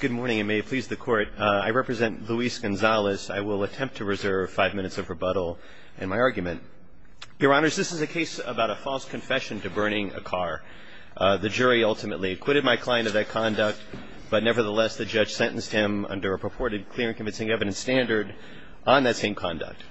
Good morning and may it please the court. I represent Luis Gonzalez. I will attempt to reserve five minutes of rebuttal in my argument. Your honors, this is a case about a false confession to burning a car. The jury ultimately acquitted my client of that conduct, but nevertheless the judge sentenced him under a purported clear and convincing evidence standard on that same conduct.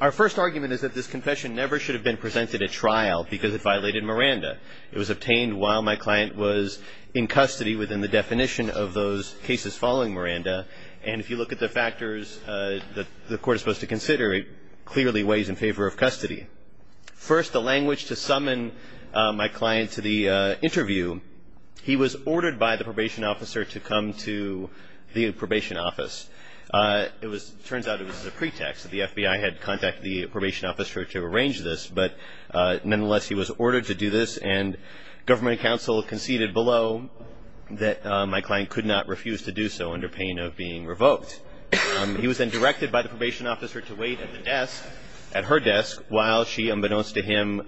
Our first argument is that this confession never should have been presented at trial because it violated Miranda. It was obtained while my client was in custody within the definition of those cases following Miranda, and if you look at the factors that the court is supposed to consider, it clearly weighs in favor of custody. First, a language to summon my client to the interview. He was ordered by the probation officer to come to the probation office. It turns out it was a pretext. The FBI had contacted the probation officer to arrange this, but nonetheless he was ordered to do this, and government counsel conceded below that my client could not refuse to do so under pain of being revoked. He was then directed by the probation officer to wait at her desk while she, unbeknownst to him,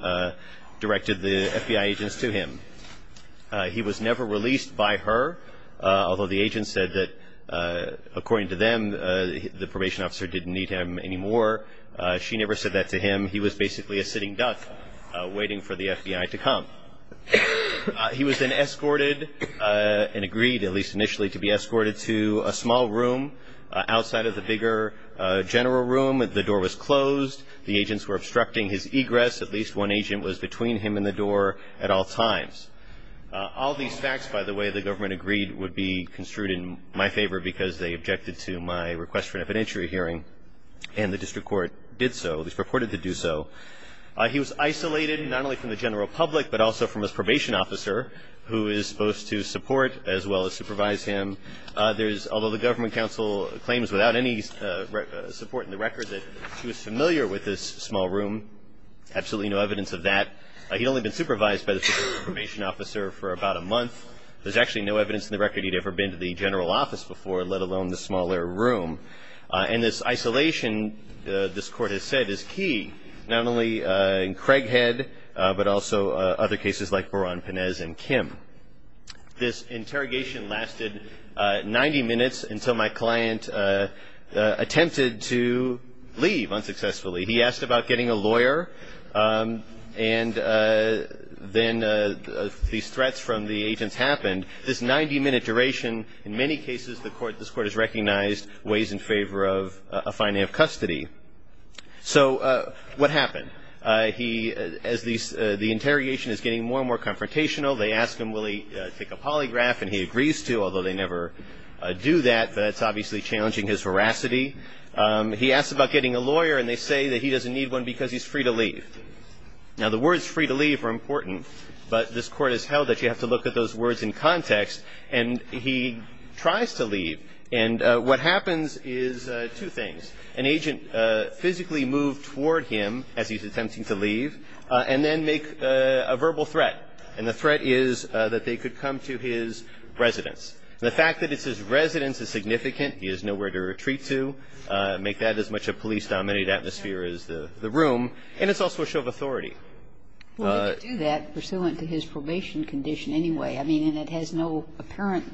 directed the FBI agents to him. He was never released by her, although the agents said that, according to them, the probation officer didn't need him anymore. She never said that to him. He was basically a sitting duck waiting for the FBI to come. He was then escorted and agreed, at least initially, to be escorted to a small room outside of the bigger general room. The door was closed. The agents were obstructing his egress. At least one agent was between him and the door at all times. All these facts, by the way, the government agreed would be construed in my favor because they objected to my request for an evidentiary hearing, and the district court did so, at least purported to do so. He was isolated not only from the general public, but also from his probation officer, who is supposed to support as well as supervise him. Although the government counsel claims without any support in the record that she was familiar with this small room, absolutely no evidence of that. He'd only been supervised by the probation officer for about a month. There's actually no evidence in the record he'd ever been to the general office before, let alone the smaller room. And this isolation, this court has said, is key, not only in Craighead, but also other cases like Beran, Panez, and Kim. This interrogation lasted 90 minutes until my client attempted to leave unsuccessfully. He asked about getting a lawyer, and then these threats from the agents happened. This 90-minute duration, in many cases, this court has recognized, weighs in favor of a finding of custody. So what happened? The interrogation is getting more and more confrontational. They ask him will he take a polygraph, and he agrees to, although they never do that. That's obviously challenging his veracity. He asks about getting a lawyer, and they say that he doesn't need one because he's free to leave. Now, the words free to leave are important, but this court has held that you have to look at those words in context. And he tries to leave, and what happens is two things. An agent physically moved toward him as he's attempting to leave, and then make a verbal threat. And the threat is that they could come to his residence. The fact that it says residence is significant, he has nowhere to retreat to, make that as much a police-dominated atmosphere as the room. And it's also a show of authority. Well, he could do that pursuant to his probation condition anyway. I mean, and it has no apparent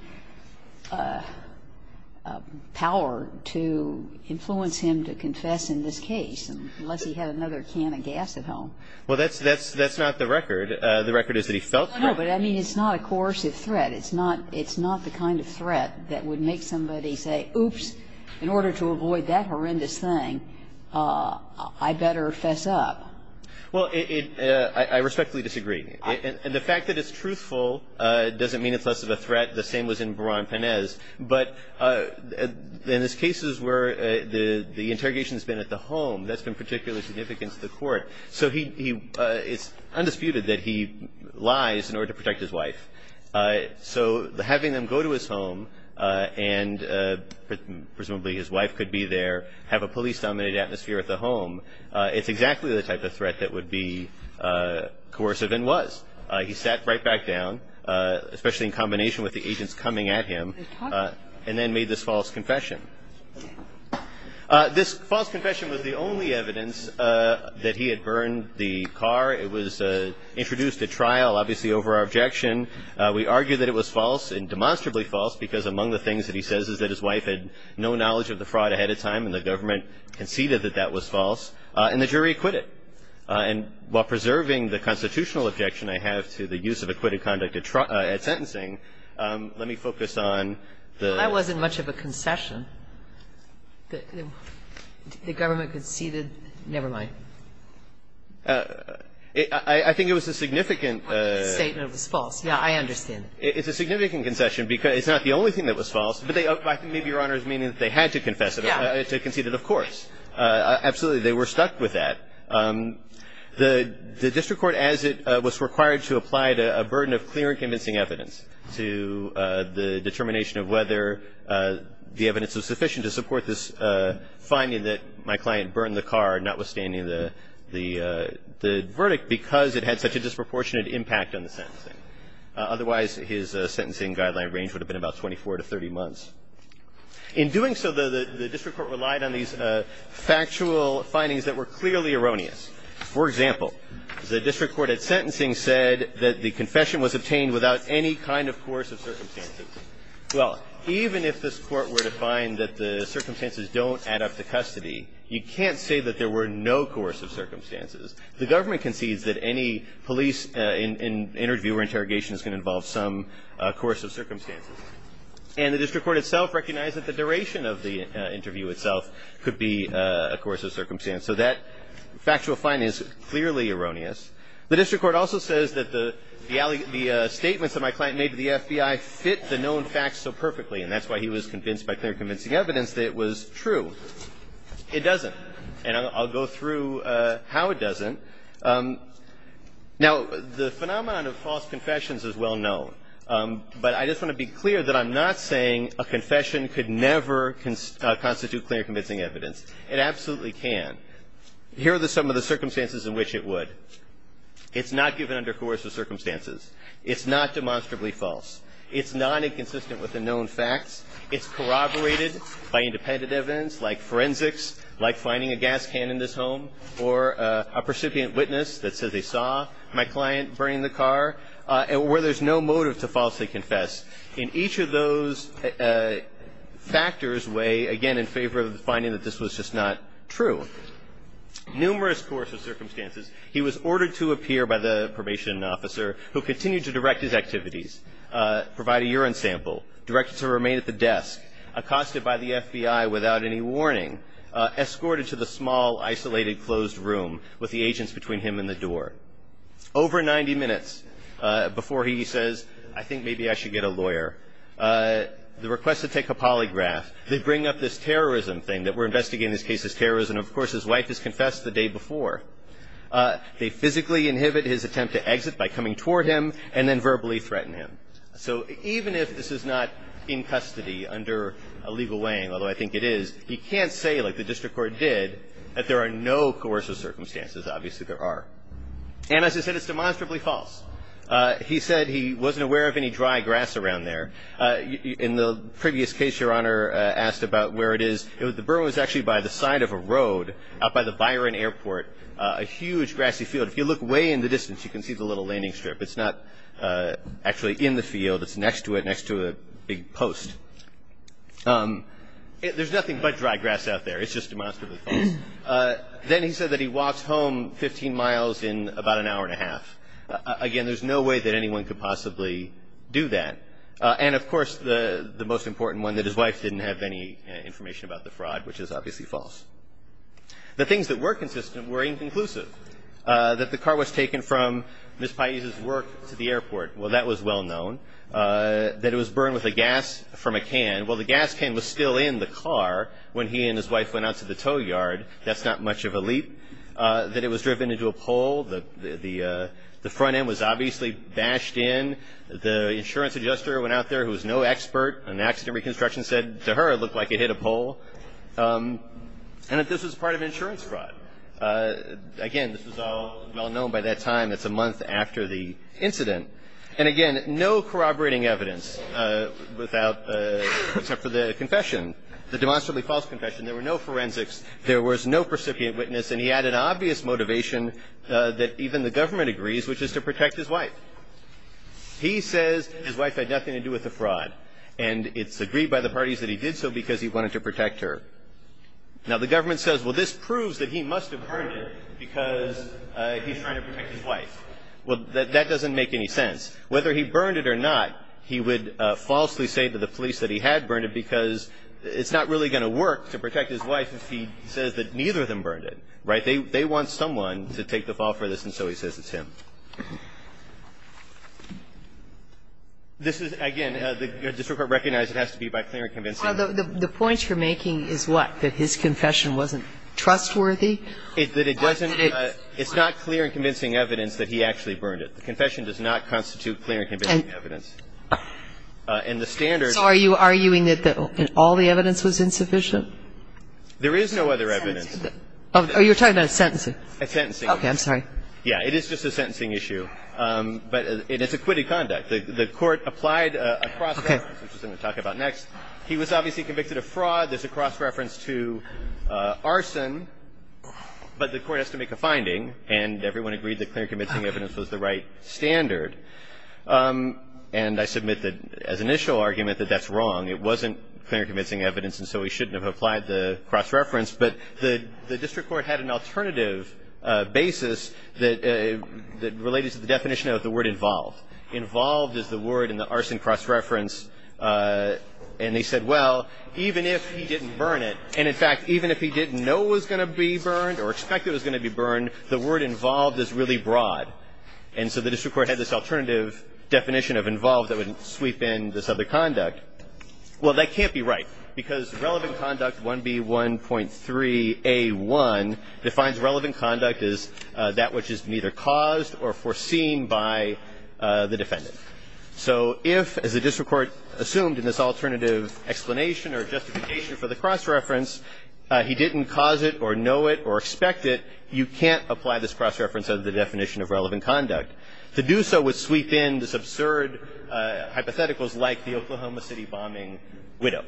power to influence him to confess in this case unless he had another can of gas at home. Well, that's not the record. The record is that he felt threatened. No, no, but I mean it's not a coercive threat. It's not the kind of threat that would make somebody say, oops, in order to avoid that horrendous thing, I better fess up. Well, I respectfully disagree. And the fact that it's truthful doesn't mean it's less of a threat. The same was in Beran-Pénez. But in these cases where the interrogation has been at the home, that's been particularly significant to the court. So he – it's undisputed that he lies in order to protect his wife. So having them go to his home and presumably his wife could be there, have a police-dominated atmosphere at the home, it's exactly the type of threat that would be coercive and was. He sat right back down, especially in combination with the agents coming at him, and then made this false confession. This false confession was the only evidence that he had burned the car. It was introduced at trial, obviously, over our objection. We argue that it was false and demonstrably false, because among the things that he says is that his wife had no knowledge of the fraud ahead of time and the government conceded that that was false, and the jury acquitted. And while preserving the constitutional objection I have to the use of acquitted conduct at sentencing, let me focus on the – Well, that wasn't much of a concession. The government conceded – never mind. I think it was a significant – I think the statement was false. Yeah, I understand. It's a significant concession because it's not the only thing that was false, but I think maybe Your Honor is meaning that they had to concede it, of course. Absolutely, they were stuck with that. The district court, as it was required to apply a burden of clear and convincing evidence to the determination of whether the evidence was sufficient to support this finding that my client burned the car, notwithstanding the verdict, because it had such a disproportionate impact on the sentencing. Otherwise, his sentencing guideline range would have been about 24 to 30 months. In doing so, the district court relied on these factual findings that were clearly erroneous. For example, the district court at sentencing said that the confession was obtained without any kind of coercive circumstances. Well, even if this Court were to find that the circumstances don't add up to custody, you can't say that there were no coercive circumstances. The government concedes that any police interview or interrogation is going to involve some coercive circumstances. And the district court itself recognized that the duration of the interview itself could be a coercive circumstance. So that factual finding is clearly erroneous. The district court also says that the statements that my client made to the FBI fit the known facts so perfectly, and that's why he was convinced by clear and convincing evidence that it was true. It doesn't, and I'll go through how it doesn't. Now, the phenomenon of false confessions is well known, but I just want to be clear that I'm not saying a confession could never constitute clear and convincing evidence. It absolutely can. Here are some of the circumstances in which it would. It's not given under coercive circumstances. It's not demonstrably false. It's not inconsistent with the known facts. It's corroborated by independent evidence like forensics, like finding a gas can in this home, or a percipient witness that says they saw my client burning the car, where there's no motive to falsely confess. In each of those factors weigh, again, in favor of the finding that this was just not true. Numerous coercive circumstances. He was ordered to appear by the probation officer, who continued to direct his activities, provide a urine sample, directed to remain at the desk, accosted by the FBI without any warning, escorted to the small, isolated, closed room with the agents between him and the door. Over 90 minutes before he says, I think maybe I should get a lawyer, the request to take a polygraph, they bring up this terrorism thing, that we're investigating this case as terrorism. Of course, his wife has confessed the day before. They physically inhibit his attempt to exit by coming toward him and then verbally threaten him. So even if this is not in custody under a legal weighing, although I think it is, he can't say, like the district court did, that there are no coercive circumstances. Obviously, there are. And as I said, it's demonstrably false. He said he wasn't aware of any dry grass around there. In the previous case, Your Honor asked about where it is. The burn was actually by the side of a road out by the Byron Airport, a huge, grassy field. If you look way in the distance, you can see the little landing strip. It's not actually in the field. It's next to it, next to a big post. There's nothing but dry grass out there. It's just demonstrably false. Then he said that he walks home 15 miles in about an hour and a half. Again, there's no way that anyone could possibly do that. And, of course, the most important one, that his wife didn't have any information about the fraud, which is obviously false. The things that were consistent were inconclusive, that the car was taken from Ms. Pais' work to the airport. Well, that was well known. That it was burned with a gas from a can. Well, the gas can was still in the car when he and his wife went out to the tow yard. That's not much of a leap. That it was driven into a pole. The front end was obviously bashed in. The insurance adjuster went out there, who was no expert on accident reconstruction, said to her it looked like it hit a pole. And that this was part of insurance fraud. Again, this was all well known by that time. It's a month after the incident. And, again, no corroborating evidence without, except for the confession, the demonstrably false confession. There were no forensics. There was no recipient witness. And he had an obvious motivation that even the government agrees, which is to protect his wife. He says his wife had nothing to do with the fraud. And it's agreed by the parties that he did so because he wanted to protect her. Now, the government says, well, this proves that he must have burned it because he's trying to protect his wife. Well, that doesn't make any sense. Whether he burned it or not, he would falsely say to the police that he had burned it because it's not really going to work to protect his wife if he says that neither of them burned it. Right? They want someone to take the fall for this, and so he says it's him. This is, again, the district court recognized it has to be by clear and convincing evidence. The point you're making is what? That his confession wasn't trustworthy? It's not clear and convincing evidence that he actually burned it. The confession does not constitute clear and convincing evidence. And the standards are you arguing that all the evidence was insufficient? There is no other evidence. Oh, you're talking about a sentencing. A sentencing. Okay. I'm sorry. Yeah. It is just a sentencing issue. But it is acquitted conduct. The court applied a cross-reference, which I'm going to talk about next. He was obviously convicted of fraud. There's a cross-reference to arson. But the court has to make a finding, and everyone agreed that clear and convincing evidence was the right standard. And I submit that as an initial argument that that's wrong. It wasn't clear and convincing evidence, and so he shouldn't have applied the cross-reference. But the district court had an alternative basis that related to the definition of the word involved. Involved is the word in the arson cross-reference, and they said, well, even if he didn't burn it. And, in fact, even if he didn't know it was going to be burned or expect it was going to be burned, the word involved is really broad. And so the district court had this alternative definition of involved that would sweep in this other conduct. Well, that can't be right because relevant conduct 1B1.3A1 defines relevant conduct as that which is neither caused or foreseen by the defendant. So if, as the district court assumed in this alternative explanation or cross-reference, he didn't cause it or know it or expect it, you can't apply this cross-reference under the definition of relevant conduct. To do so would sweep in this absurd hypotheticals like the Oklahoma City bombing widow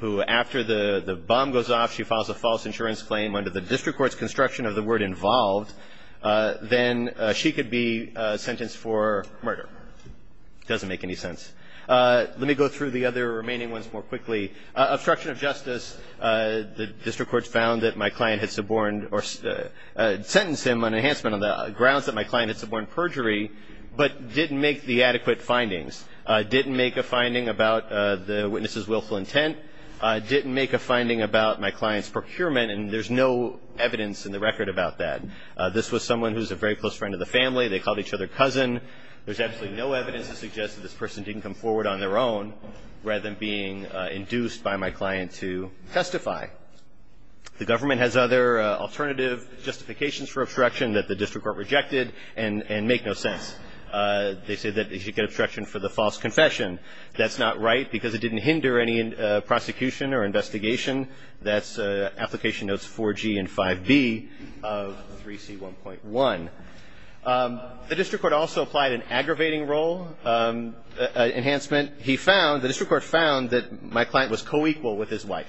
who, after the bomb goes off, she files a false insurance claim under the district court's construction of the word involved. Then she could be sentenced for murder. Doesn't make any sense. Let me go through the other remaining ones more quickly. Obstruction of justice, the district court found that my client had suborned or sentenced him on enhancement of the grounds that my client had suborned perjury but didn't make the adequate findings. Didn't make a finding about the witness's willful intent. Didn't make a finding about my client's procurement. And there's no evidence in the record about that. This was someone who was a very close friend of the family. They called each other cousin. There's absolutely no evidence to suggest that this person didn't come forward on their own rather than being induced by my client to testify. The government has other alternative justifications for obstruction that the district court rejected and make no sense. They say that he should get obstruction for the false confession. That's not right because it didn't hinder any prosecution or investigation. That's application notes 4G and 5B of 3C1.1. The district court also applied an aggravating role enhancement. He found, the district court found that my client was co-equal with his wife.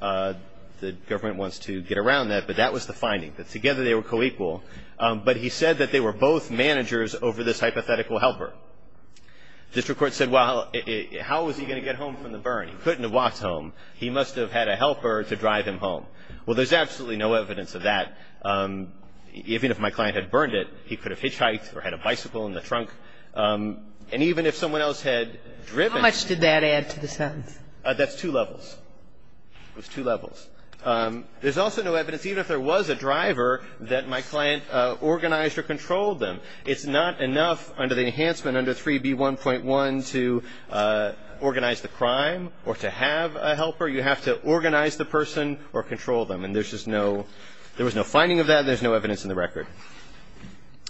The government wants to get around that, but that was the finding, that together they were co-equal. But he said that they were both managers over this hypothetical helper. District court said, well, how was he going to get home from the burn? He couldn't have walked home. He must have had a helper to drive him home. Well, there's absolutely no evidence of that. Even if my client had burned it, he could have hitchhiked or had a bicycle in the trunk. And even if someone else had driven him. How much did that add to the sentence? That's two levels. It was two levels. There's also no evidence, even if there was a driver, that my client organized or controlled them. It's not enough under the enhancement under 3B1.1 to organize the crime or to have a helper. You have to organize the person or control them. And there's just no – there was no finding of that. There's no evidence in the record.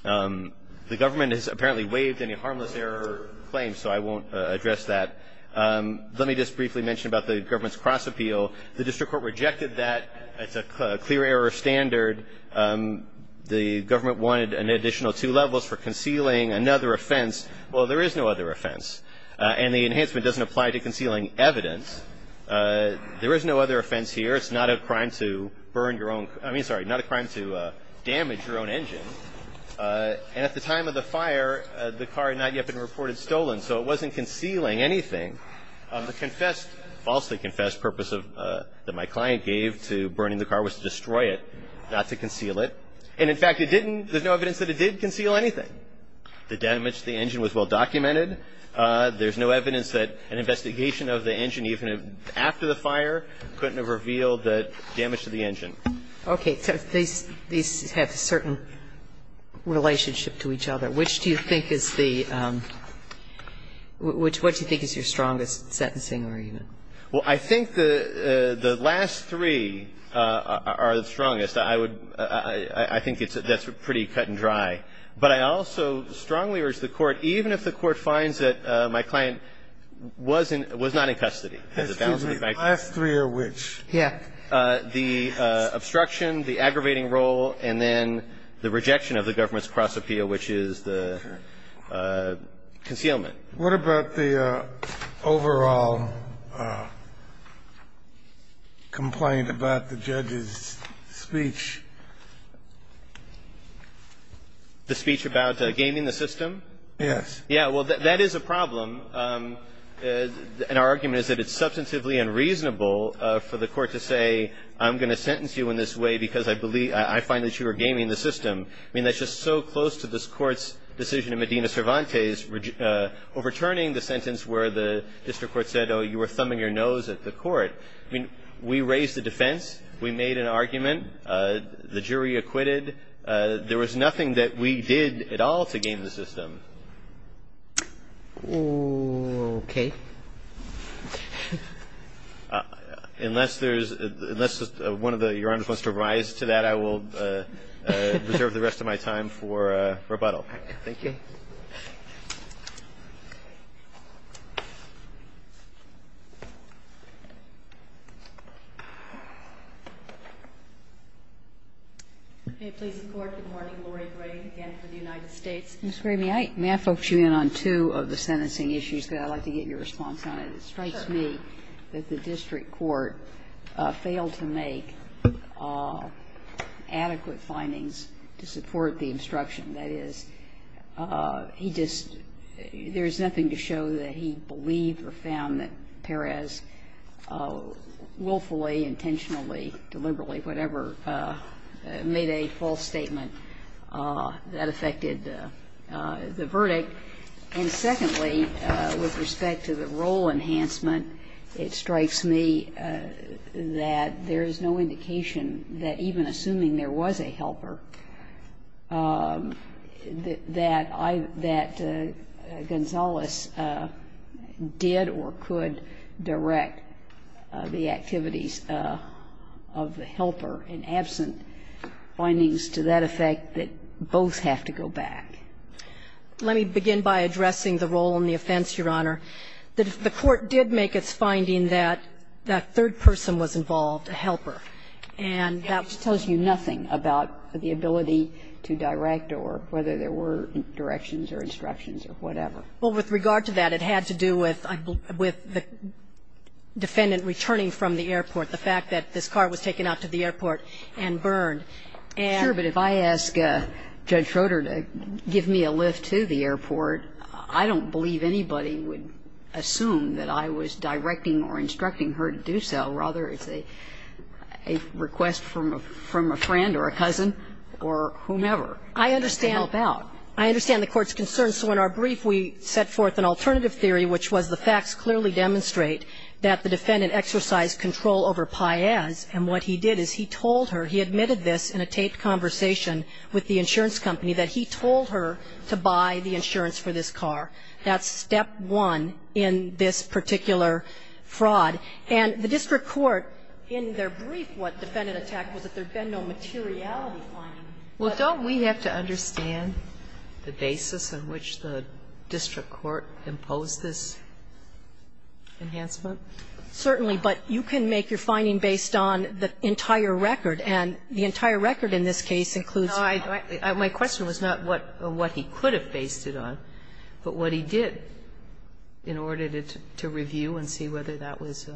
The government has apparently waived any harmless error claims, so I won't address that. Let me just briefly mention about the government's cross-appeal. The district court rejected that. It's a clear error standard. The government wanted an additional two levels for concealing another offense. Well, there is no other offense. And the enhancement doesn't apply to concealing evidence. There is no other offense here. It's not a crime to burn your own – I mean, sorry, not a crime to damage your own engine. And at the time of the fire, the car had not yet been reported stolen, so it wasn't concealing anything. The falsely confessed purpose that my client gave to burning the car was to destroy it, not to conceal it. And, in fact, it didn't – there's no evidence that it did conceal anything. The damage to the engine was well-documented. There's no evidence that an investigation of the engine, even after the fire, couldn't have revealed the damage to the engine. Okay. So these have a certain relationship to each other. Which do you think is the – what do you think is your strongest sentencing argument? Well, I think the last three are the strongest. I would – I think that's pretty cut and dry. But I also strongly urge the Court, even if the Court finds that my client was in – was not in custody. Excuse me. The last three are which? Yeah. The obstruction, the aggravating role, and then the rejection of the government's cross-appeal, which is the concealment. What about the overall complaint about the judge's speech? The speech about gaming the system? Yes. Yeah. Well, that is a problem. And our argument is that it's substantively unreasonable for the Court to say, I'm going to sentence you in this way because I believe – I find that you were gaming the system. I mean, that's just so close to this Court's decision in Medina Cervantes, overturning the sentence where the district court said, oh, you were thumbing your nose at the Court. I mean, we raised the defense. We made an argument. There was nothing that we did at all to game the system. Okay. Unless there's – unless one of the Your Honors wants to rise to that, I will reserve the rest of my time for rebuttal. Thank you. May it please the Court, good morning. Laurie Gray again for the United States. Ms. Gramey, may I focus you in on two of the sentencing issues? I'd like to get your response on it. It strikes me that the district court failed to make adequate findings to support the instruction. That is, he just – there's nothing to show that he believed or found that Perez willfully, intentionally, deliberately, whatever, made a false statement that affected the verdict. And secondly, with respect to the role enhancement, it strikes me that there is no indication that even assuming there was a helper, that I – that Gonzales did or could direct the activities of the helper in absent findings to that effect that both have to go back. Let me begin by addressing the role and the offense, Your Honor. The court did make its finding that that third person was involved, a helper. And that tells you nothing about the ability to direct or whether there were directions or instructions or whatever. Well, with regard to that, it had to do with the defendant returning from the airport, the fact that this car was taken out to the airport and burned. Sure, but if I ask Judge Schroeder to give me a lift to the airport, I don't believe anybody would assume that I was directing or instructing her to do so. It's a request from a friend or a cousin or whomever to help out. I understand. I understand the court's concerns. So in our brief, we set forth an alternative theory which was the facts clearly demonstrate that the defendant exercised control over Piaz. And what he did is he told her, he admitted this in a taped conversation with the insurance company, that he told her to buy the insurance for this car. That's step one in this particular fraud. And the district court, in their brief what defendant attacked was that there had been no materiality finding. Well, don't we have to understand the basis on which the district court imposed this enhancement? Certainly. But you can make your finding based on the entire record, and the entire record in this case includes. No, I don't. My question was not what he could have based it on, but what he did in order to review and see whether that was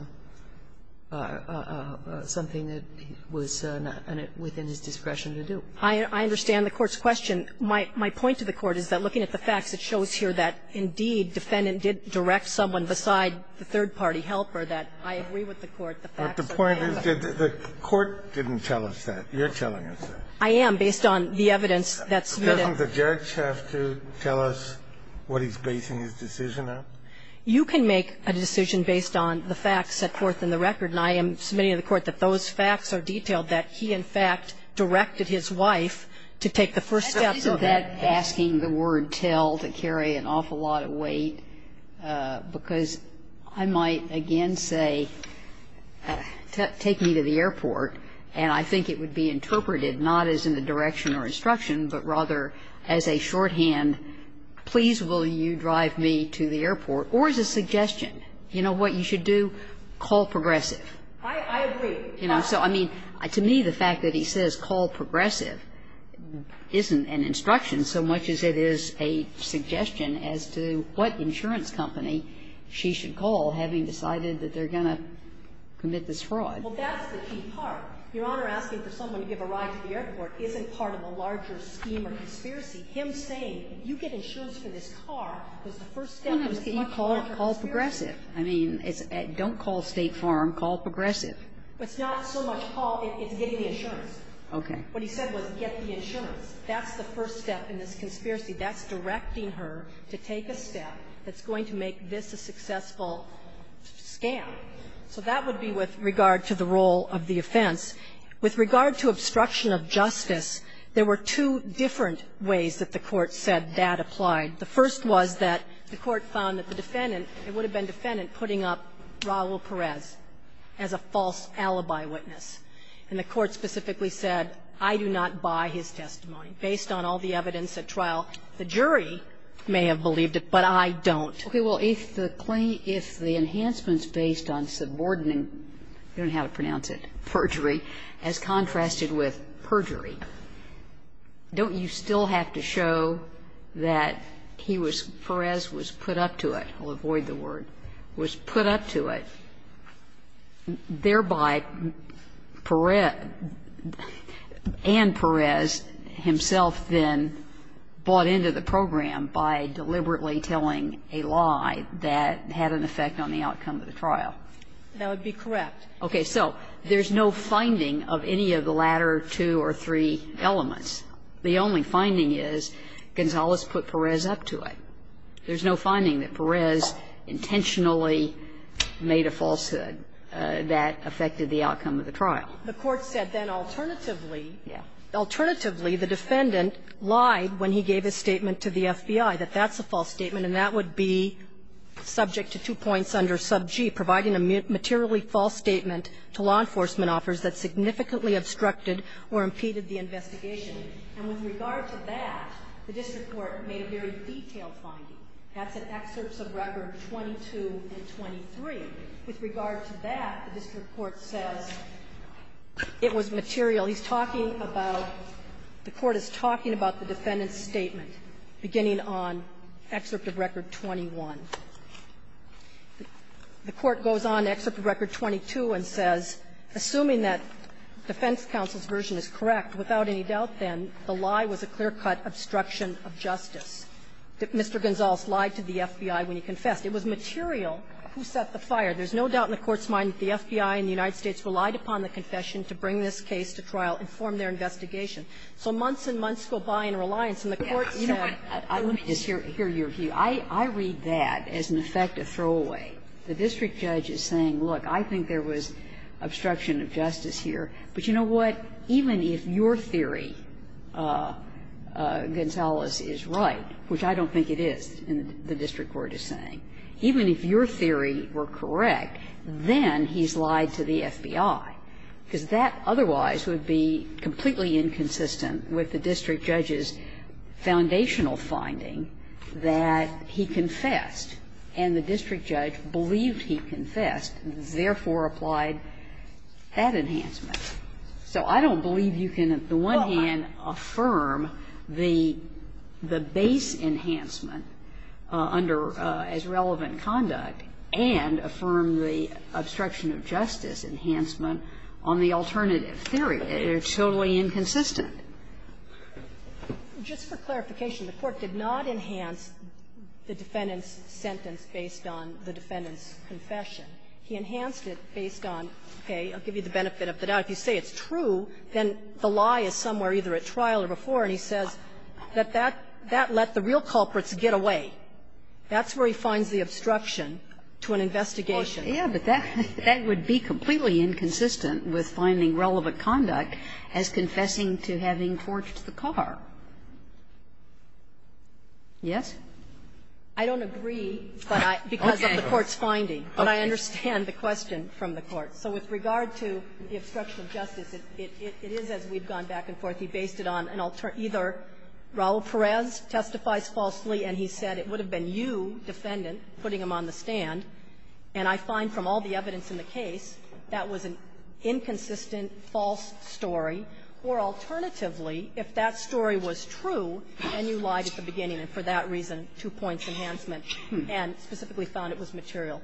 something that was not within his discretion to do. I understand the court's question. My point to the court is that looking at the facts, it shows here that, indeed, defendant did direct someone beside the third-party helper, that I agree with the court, the facts are clear. But the point is that the court didn't tell us that. You're telling us that. I am, based on the evidence that's been held. Doesn't the judge have to tell us what he's basing his decision on? You can make a decision based on the facts set forth in the record. And I am submitting to the court that those facts are detailed, that he, in fact, directed his wife to take the first steps of that decision. Isn't that asking the word tell to carry an awful lot of weight? Because I might, again, say, take me to the airport, and I think it would be interpreted not as in the direction or instruction, but rather as a shorthand, please will you drive me to the airport, or as a suggestion. You know what you should do? Call Progressive. I agree. You know, so, I mean, to me, the fact that he says call Progressive isn't an instruction so much as it is a suggestion as to what insurance company she should call, having decided that they're going to commit this fraud. Well, that's the key part. Your Honor, asking for someone to give a ride to the airport isn't part of a larger scheme or conspiracy. Him saying, you get insurance for this car, was the first step. You call Progressive. I mean, don't call State Farm. Call Progressive. It's not so much call. It's getting the insurance. Okay. What he said was get the insurance. That's the first step in this conspiracy. That's directing her to take a step that's going to make this a successful scam. So that would be with regard to the role of the offense. With regard to obstruction of justice, there were two different ways that the Court said that applied. The first was that the Court found that the defendant, it would have been defendant, putting up Raul Perez as a false alibi witness. And the Court specifically said, I do not buy his testimony. Based on all the evidence at trial, the jury may have believed it, but I don't. Okay. Well, if the claim, if the enhancement's based on subordinating, I don't know how to pronounce it, perjury, as contrasted with perjury, don't you still have to show that he was, Perez was put up to it? I'll avoid the word. Was put up to it. Thereby, Perez, and Perez himself then bought into the program by deliberately telling a lie that had an effect on the outcome of the trial. That would be correct. Okay. So there's no finding of any of the latter two or three elements. The only finding is Gonzales put Perez up to it. There's no finding that Perez intentionally made a falsehood that affected the outcome of the trial. The Court said then alternatively, alternatively, the defendant lied when he gave his statement to the FBI, that that's a false statement and that would be subject to two points under sub G, providing a materially false statement to law enforcement offers that significantly obstructed or impeded the investigation. And with regard to that, the district court made a very detailed finding. That's in excerpts of record 22 and 23. With regard to that, the district court says it was material. He's talking about, the Court is talking about the defendant's statement, beginning on excerpt of record 21. The Court goes on excerpt of record 22 and says, assuming that defense counsel's version is correct, without any doubt then the lie was a clear-cut obstruction of justice. Mr. Gonzales lied to the FBI when he confessed. It was material who set the fire. There's no doubt in the Court's mind that the FBI and the United States relied upon the confession to bring this case to trial and form their investigation. So months and months go by in reliance. And the Court said you know what, let me just hear your view. I read that as, in effect, a throwaway. The district judge is saying, look, I think there was obstruction of justice here. But you know what? Even if your theory, Gonzales, is right, which I don't think it is, the district court is saying, even if your theory were correct, then he's lied to the FBI, because that otherwise would be completely inconsistent with the district judge's foundational finding that he confessed, and the district judge believed he confessed, therefore applied that enhancement. So I don't believe you can, on the one hand, affirm the base enhancement as relevant and affirm the obstruction of justice enhancement on the alternative theory. It's totally inconsistent. Just for clarification, the Court did not enhance the defendant's sentence based on the defendant's confession. He enhanced it based on, okay, I'll give you the benefit of the doubt. If you say it's true, then the lie is somewhere either at trial or before, and he says that that let the real culprits get away. That's where he finds the obstruction to an investigation. Kagan. But that would be completely inconsistent with finding relevant conduct as confessing to having torched the car. Yes? I don't agree, but I don't agree, because of the court's finding. But I understand the question from the court. So with regard to the obstruction of justice, it is as we've gone back and forth. He based it on either Raul Perez testifies falsely, and he said it would have been you, defendant, putting him on the stand. And I find from all the evidence in the case, that was an inconsistent, false story. Or alternatively, if that story was true, then you lied at the beginning, and for that reason, two points enhancement, and specifically found it was material.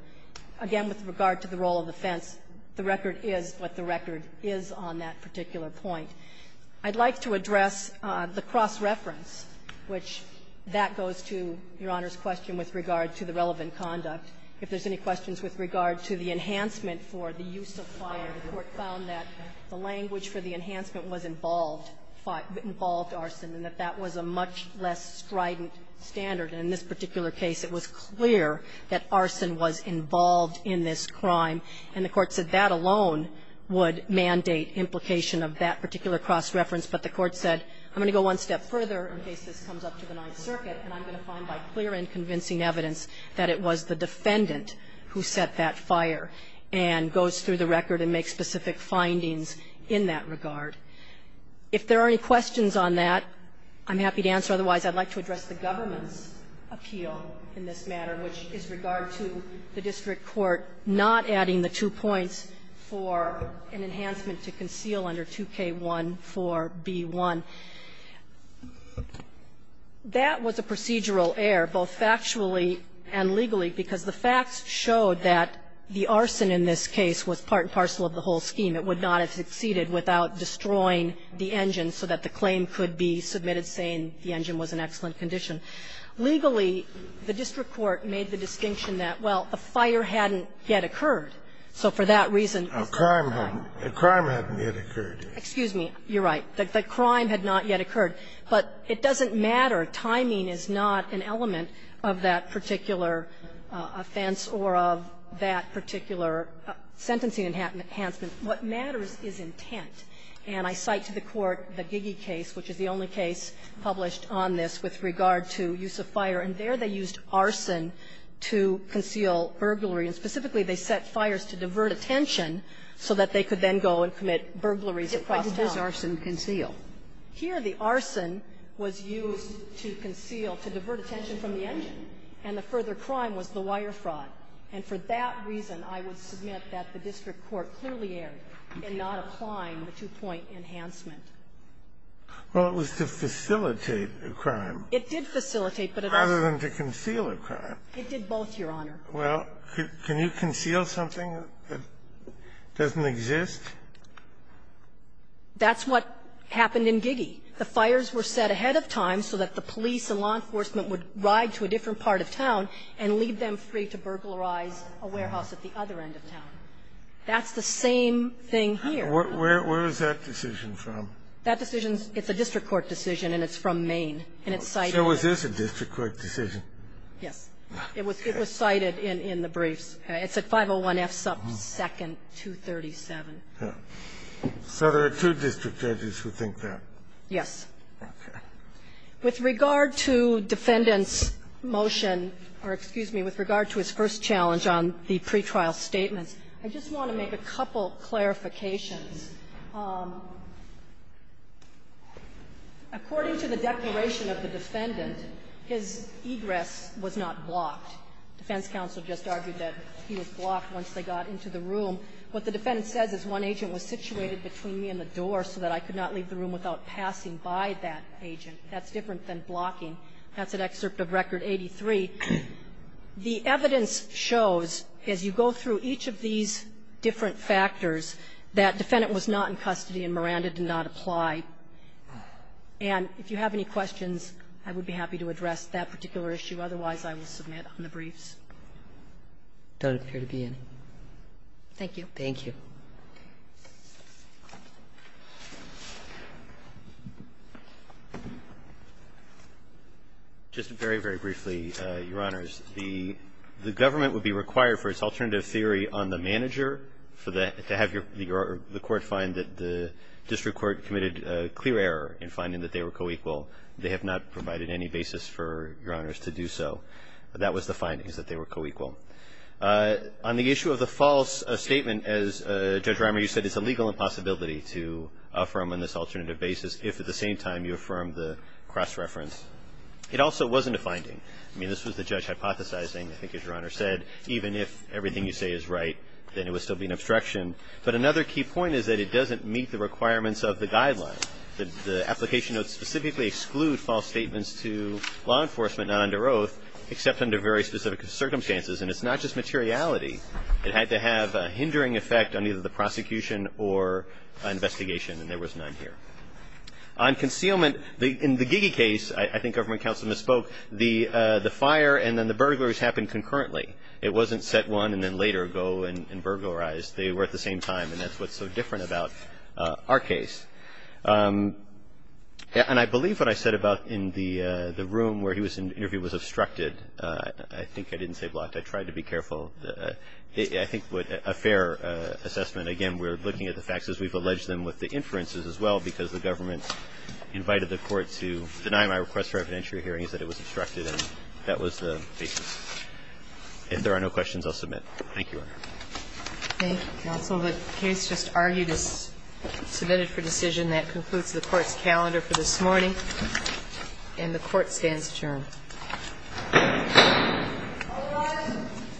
Again, with regard to the role of the fence, the record is what the record is on that particular point. I'd like to address the cross-reference, which that goes to Your Honor's question with regard to the relevant conduct. If there's any questions with regard to the enhancement for the use of fire, the Court found that the language for the enhancement was involved, involved arson, and that that was a much less strident standard. And in this particular case, it was clear that arson was involved in this crime, and the Court said that alone would mandate implication of that particular cross-reference. But the Court said, I'm going to go one step further in case this comes up to the Ninth Circuit, and I'm going to find by clear and convincing evidence that it was the defendant who set that fire, and goes through the record and makes specific findings in that regard. If there are any questions on that, I'm happy to answer. Otherwise, I'd like to address the government's appeal in this matter, which is regard to the district court not adding the two points for an enhancement to conceal under 2K14B1. That was a procedural error, both factually and legally, because the facts showed that the arson in this case was part and parcel of the whole scheme. It would not have succeeded without destroying the engine so that the claim could be submitted saying the engine was in excellent condition. Legally, the district court made the distinction that, well, the fire hadn't yet occurred. So for that reason, it's not a crime. Scalia, The crime hadn't yet occurred. Excuse me. You're right. The crime had not yet occurred. But it doesn't matter. Timing is not an element of that particular offense or of that particular sentencing enhancement. What matters is intent. And I cite to the Court the Giggy case, which is the only case published on this with regard to use of fire, and there they used arson to conceal burglary. And specifically, they set fires to divert attention so that they could then go and commit burglaries across town. Why did this arson conceal? Here, the arson was used to conceal, to divert attention from the engine. And the further crime was the wire fraud. And for that reason, I would submit that the district court clearly erred in not applying the two-point enhancement. Well, it was to facilitate a crime. It did facilitate, but it also It did facilitate, but it also Rather than to conceal a crime. It did both, Your Honor. Well, can you conceal something that doesn't exist? That's what happened in Giggy. The fires were set ahead of time so that the police and law enforcement would ride to a different part of town and leave them free to burglarize a warehouse at the other end of town. That's the same thing here. Where is that decision from? That decision, it's a district court decision, and it's from Maine, and it's cited in the briefs. So it is a district court decision? Yes. It was cited in the briefs. It's at 501F sub 2nd, 237. So there are two district judges who think that? Yes. Okay. With regard to Defendant's motion, or excuse me, with regard to his first challenge on the pretrial statements, I just want to make a couple clarifications. According to the declaration of the defendant, his egress was not blocked. Defense counsel just argued that he was blocked once they got into the room. What the defendant says is, one agent was situated between me and the door so that I could not leave the room without passing by that agent. That's different than blocking. That's an excerpt of Record 83. The evidence shows, as you go through each of these different factors, that Defendant was not in custody and Miranda did not apply. And if you have any questions, I would be happy to address that particular issue. Otherwise, I will submit on the briefs. I don't appear to be in. Thank you. Thank you. Just very, very briefly, Your Honors. The government would be required for its alternative theory on the manager to have a co-equal. The court found that the district court committed a clear error in finding that they were co-equal. They have not provided any basis for Your Honors to do so. That was the findings, that they were co-equal. On the issue of the false statement, as Judge Reimer, you said, it's a legal impossibility to affirm on this alternative basis if, at the same time, you affirm the cross-reference. It also wasn't a finding. I mean, this was the judge hypothesizing, I think as Your Honor said, even if everything you say is right, then it would still be an obstruction. But another key point is that it doesn't meet the requirements of the guidelines. The application notes specifically exclude false statements to law enforcement not under oath, except under very specific circumstances. And it's not just materiality. It had to have a hindering effect on either the prosecution or investigation, and there was none here. On concealment, in the Gigi case, I think government counsel misspoke, the fire and then the burglaries happened concurrently. It wasn't set one and then later go and burglarize. They were at the same time, and that's what's so different about our case. And I believe what I said about in the room where he was interviewed was obstructed. I think I didn't say blocked. I tried to be careful. I think a fair assessment, again, we're looking at the facts as we've alleged them with the inferences as well, because the government invited the court to deny my request for evidentiary hearings that it was obstructed, and that was the basis. If there are no questions, I'll submit. Thank you, Your Honor. Thank you, counsel. The case just argued is submitted for decision. That concludes the Court's calendar for this morning, and the Court stands adjourned. All rise.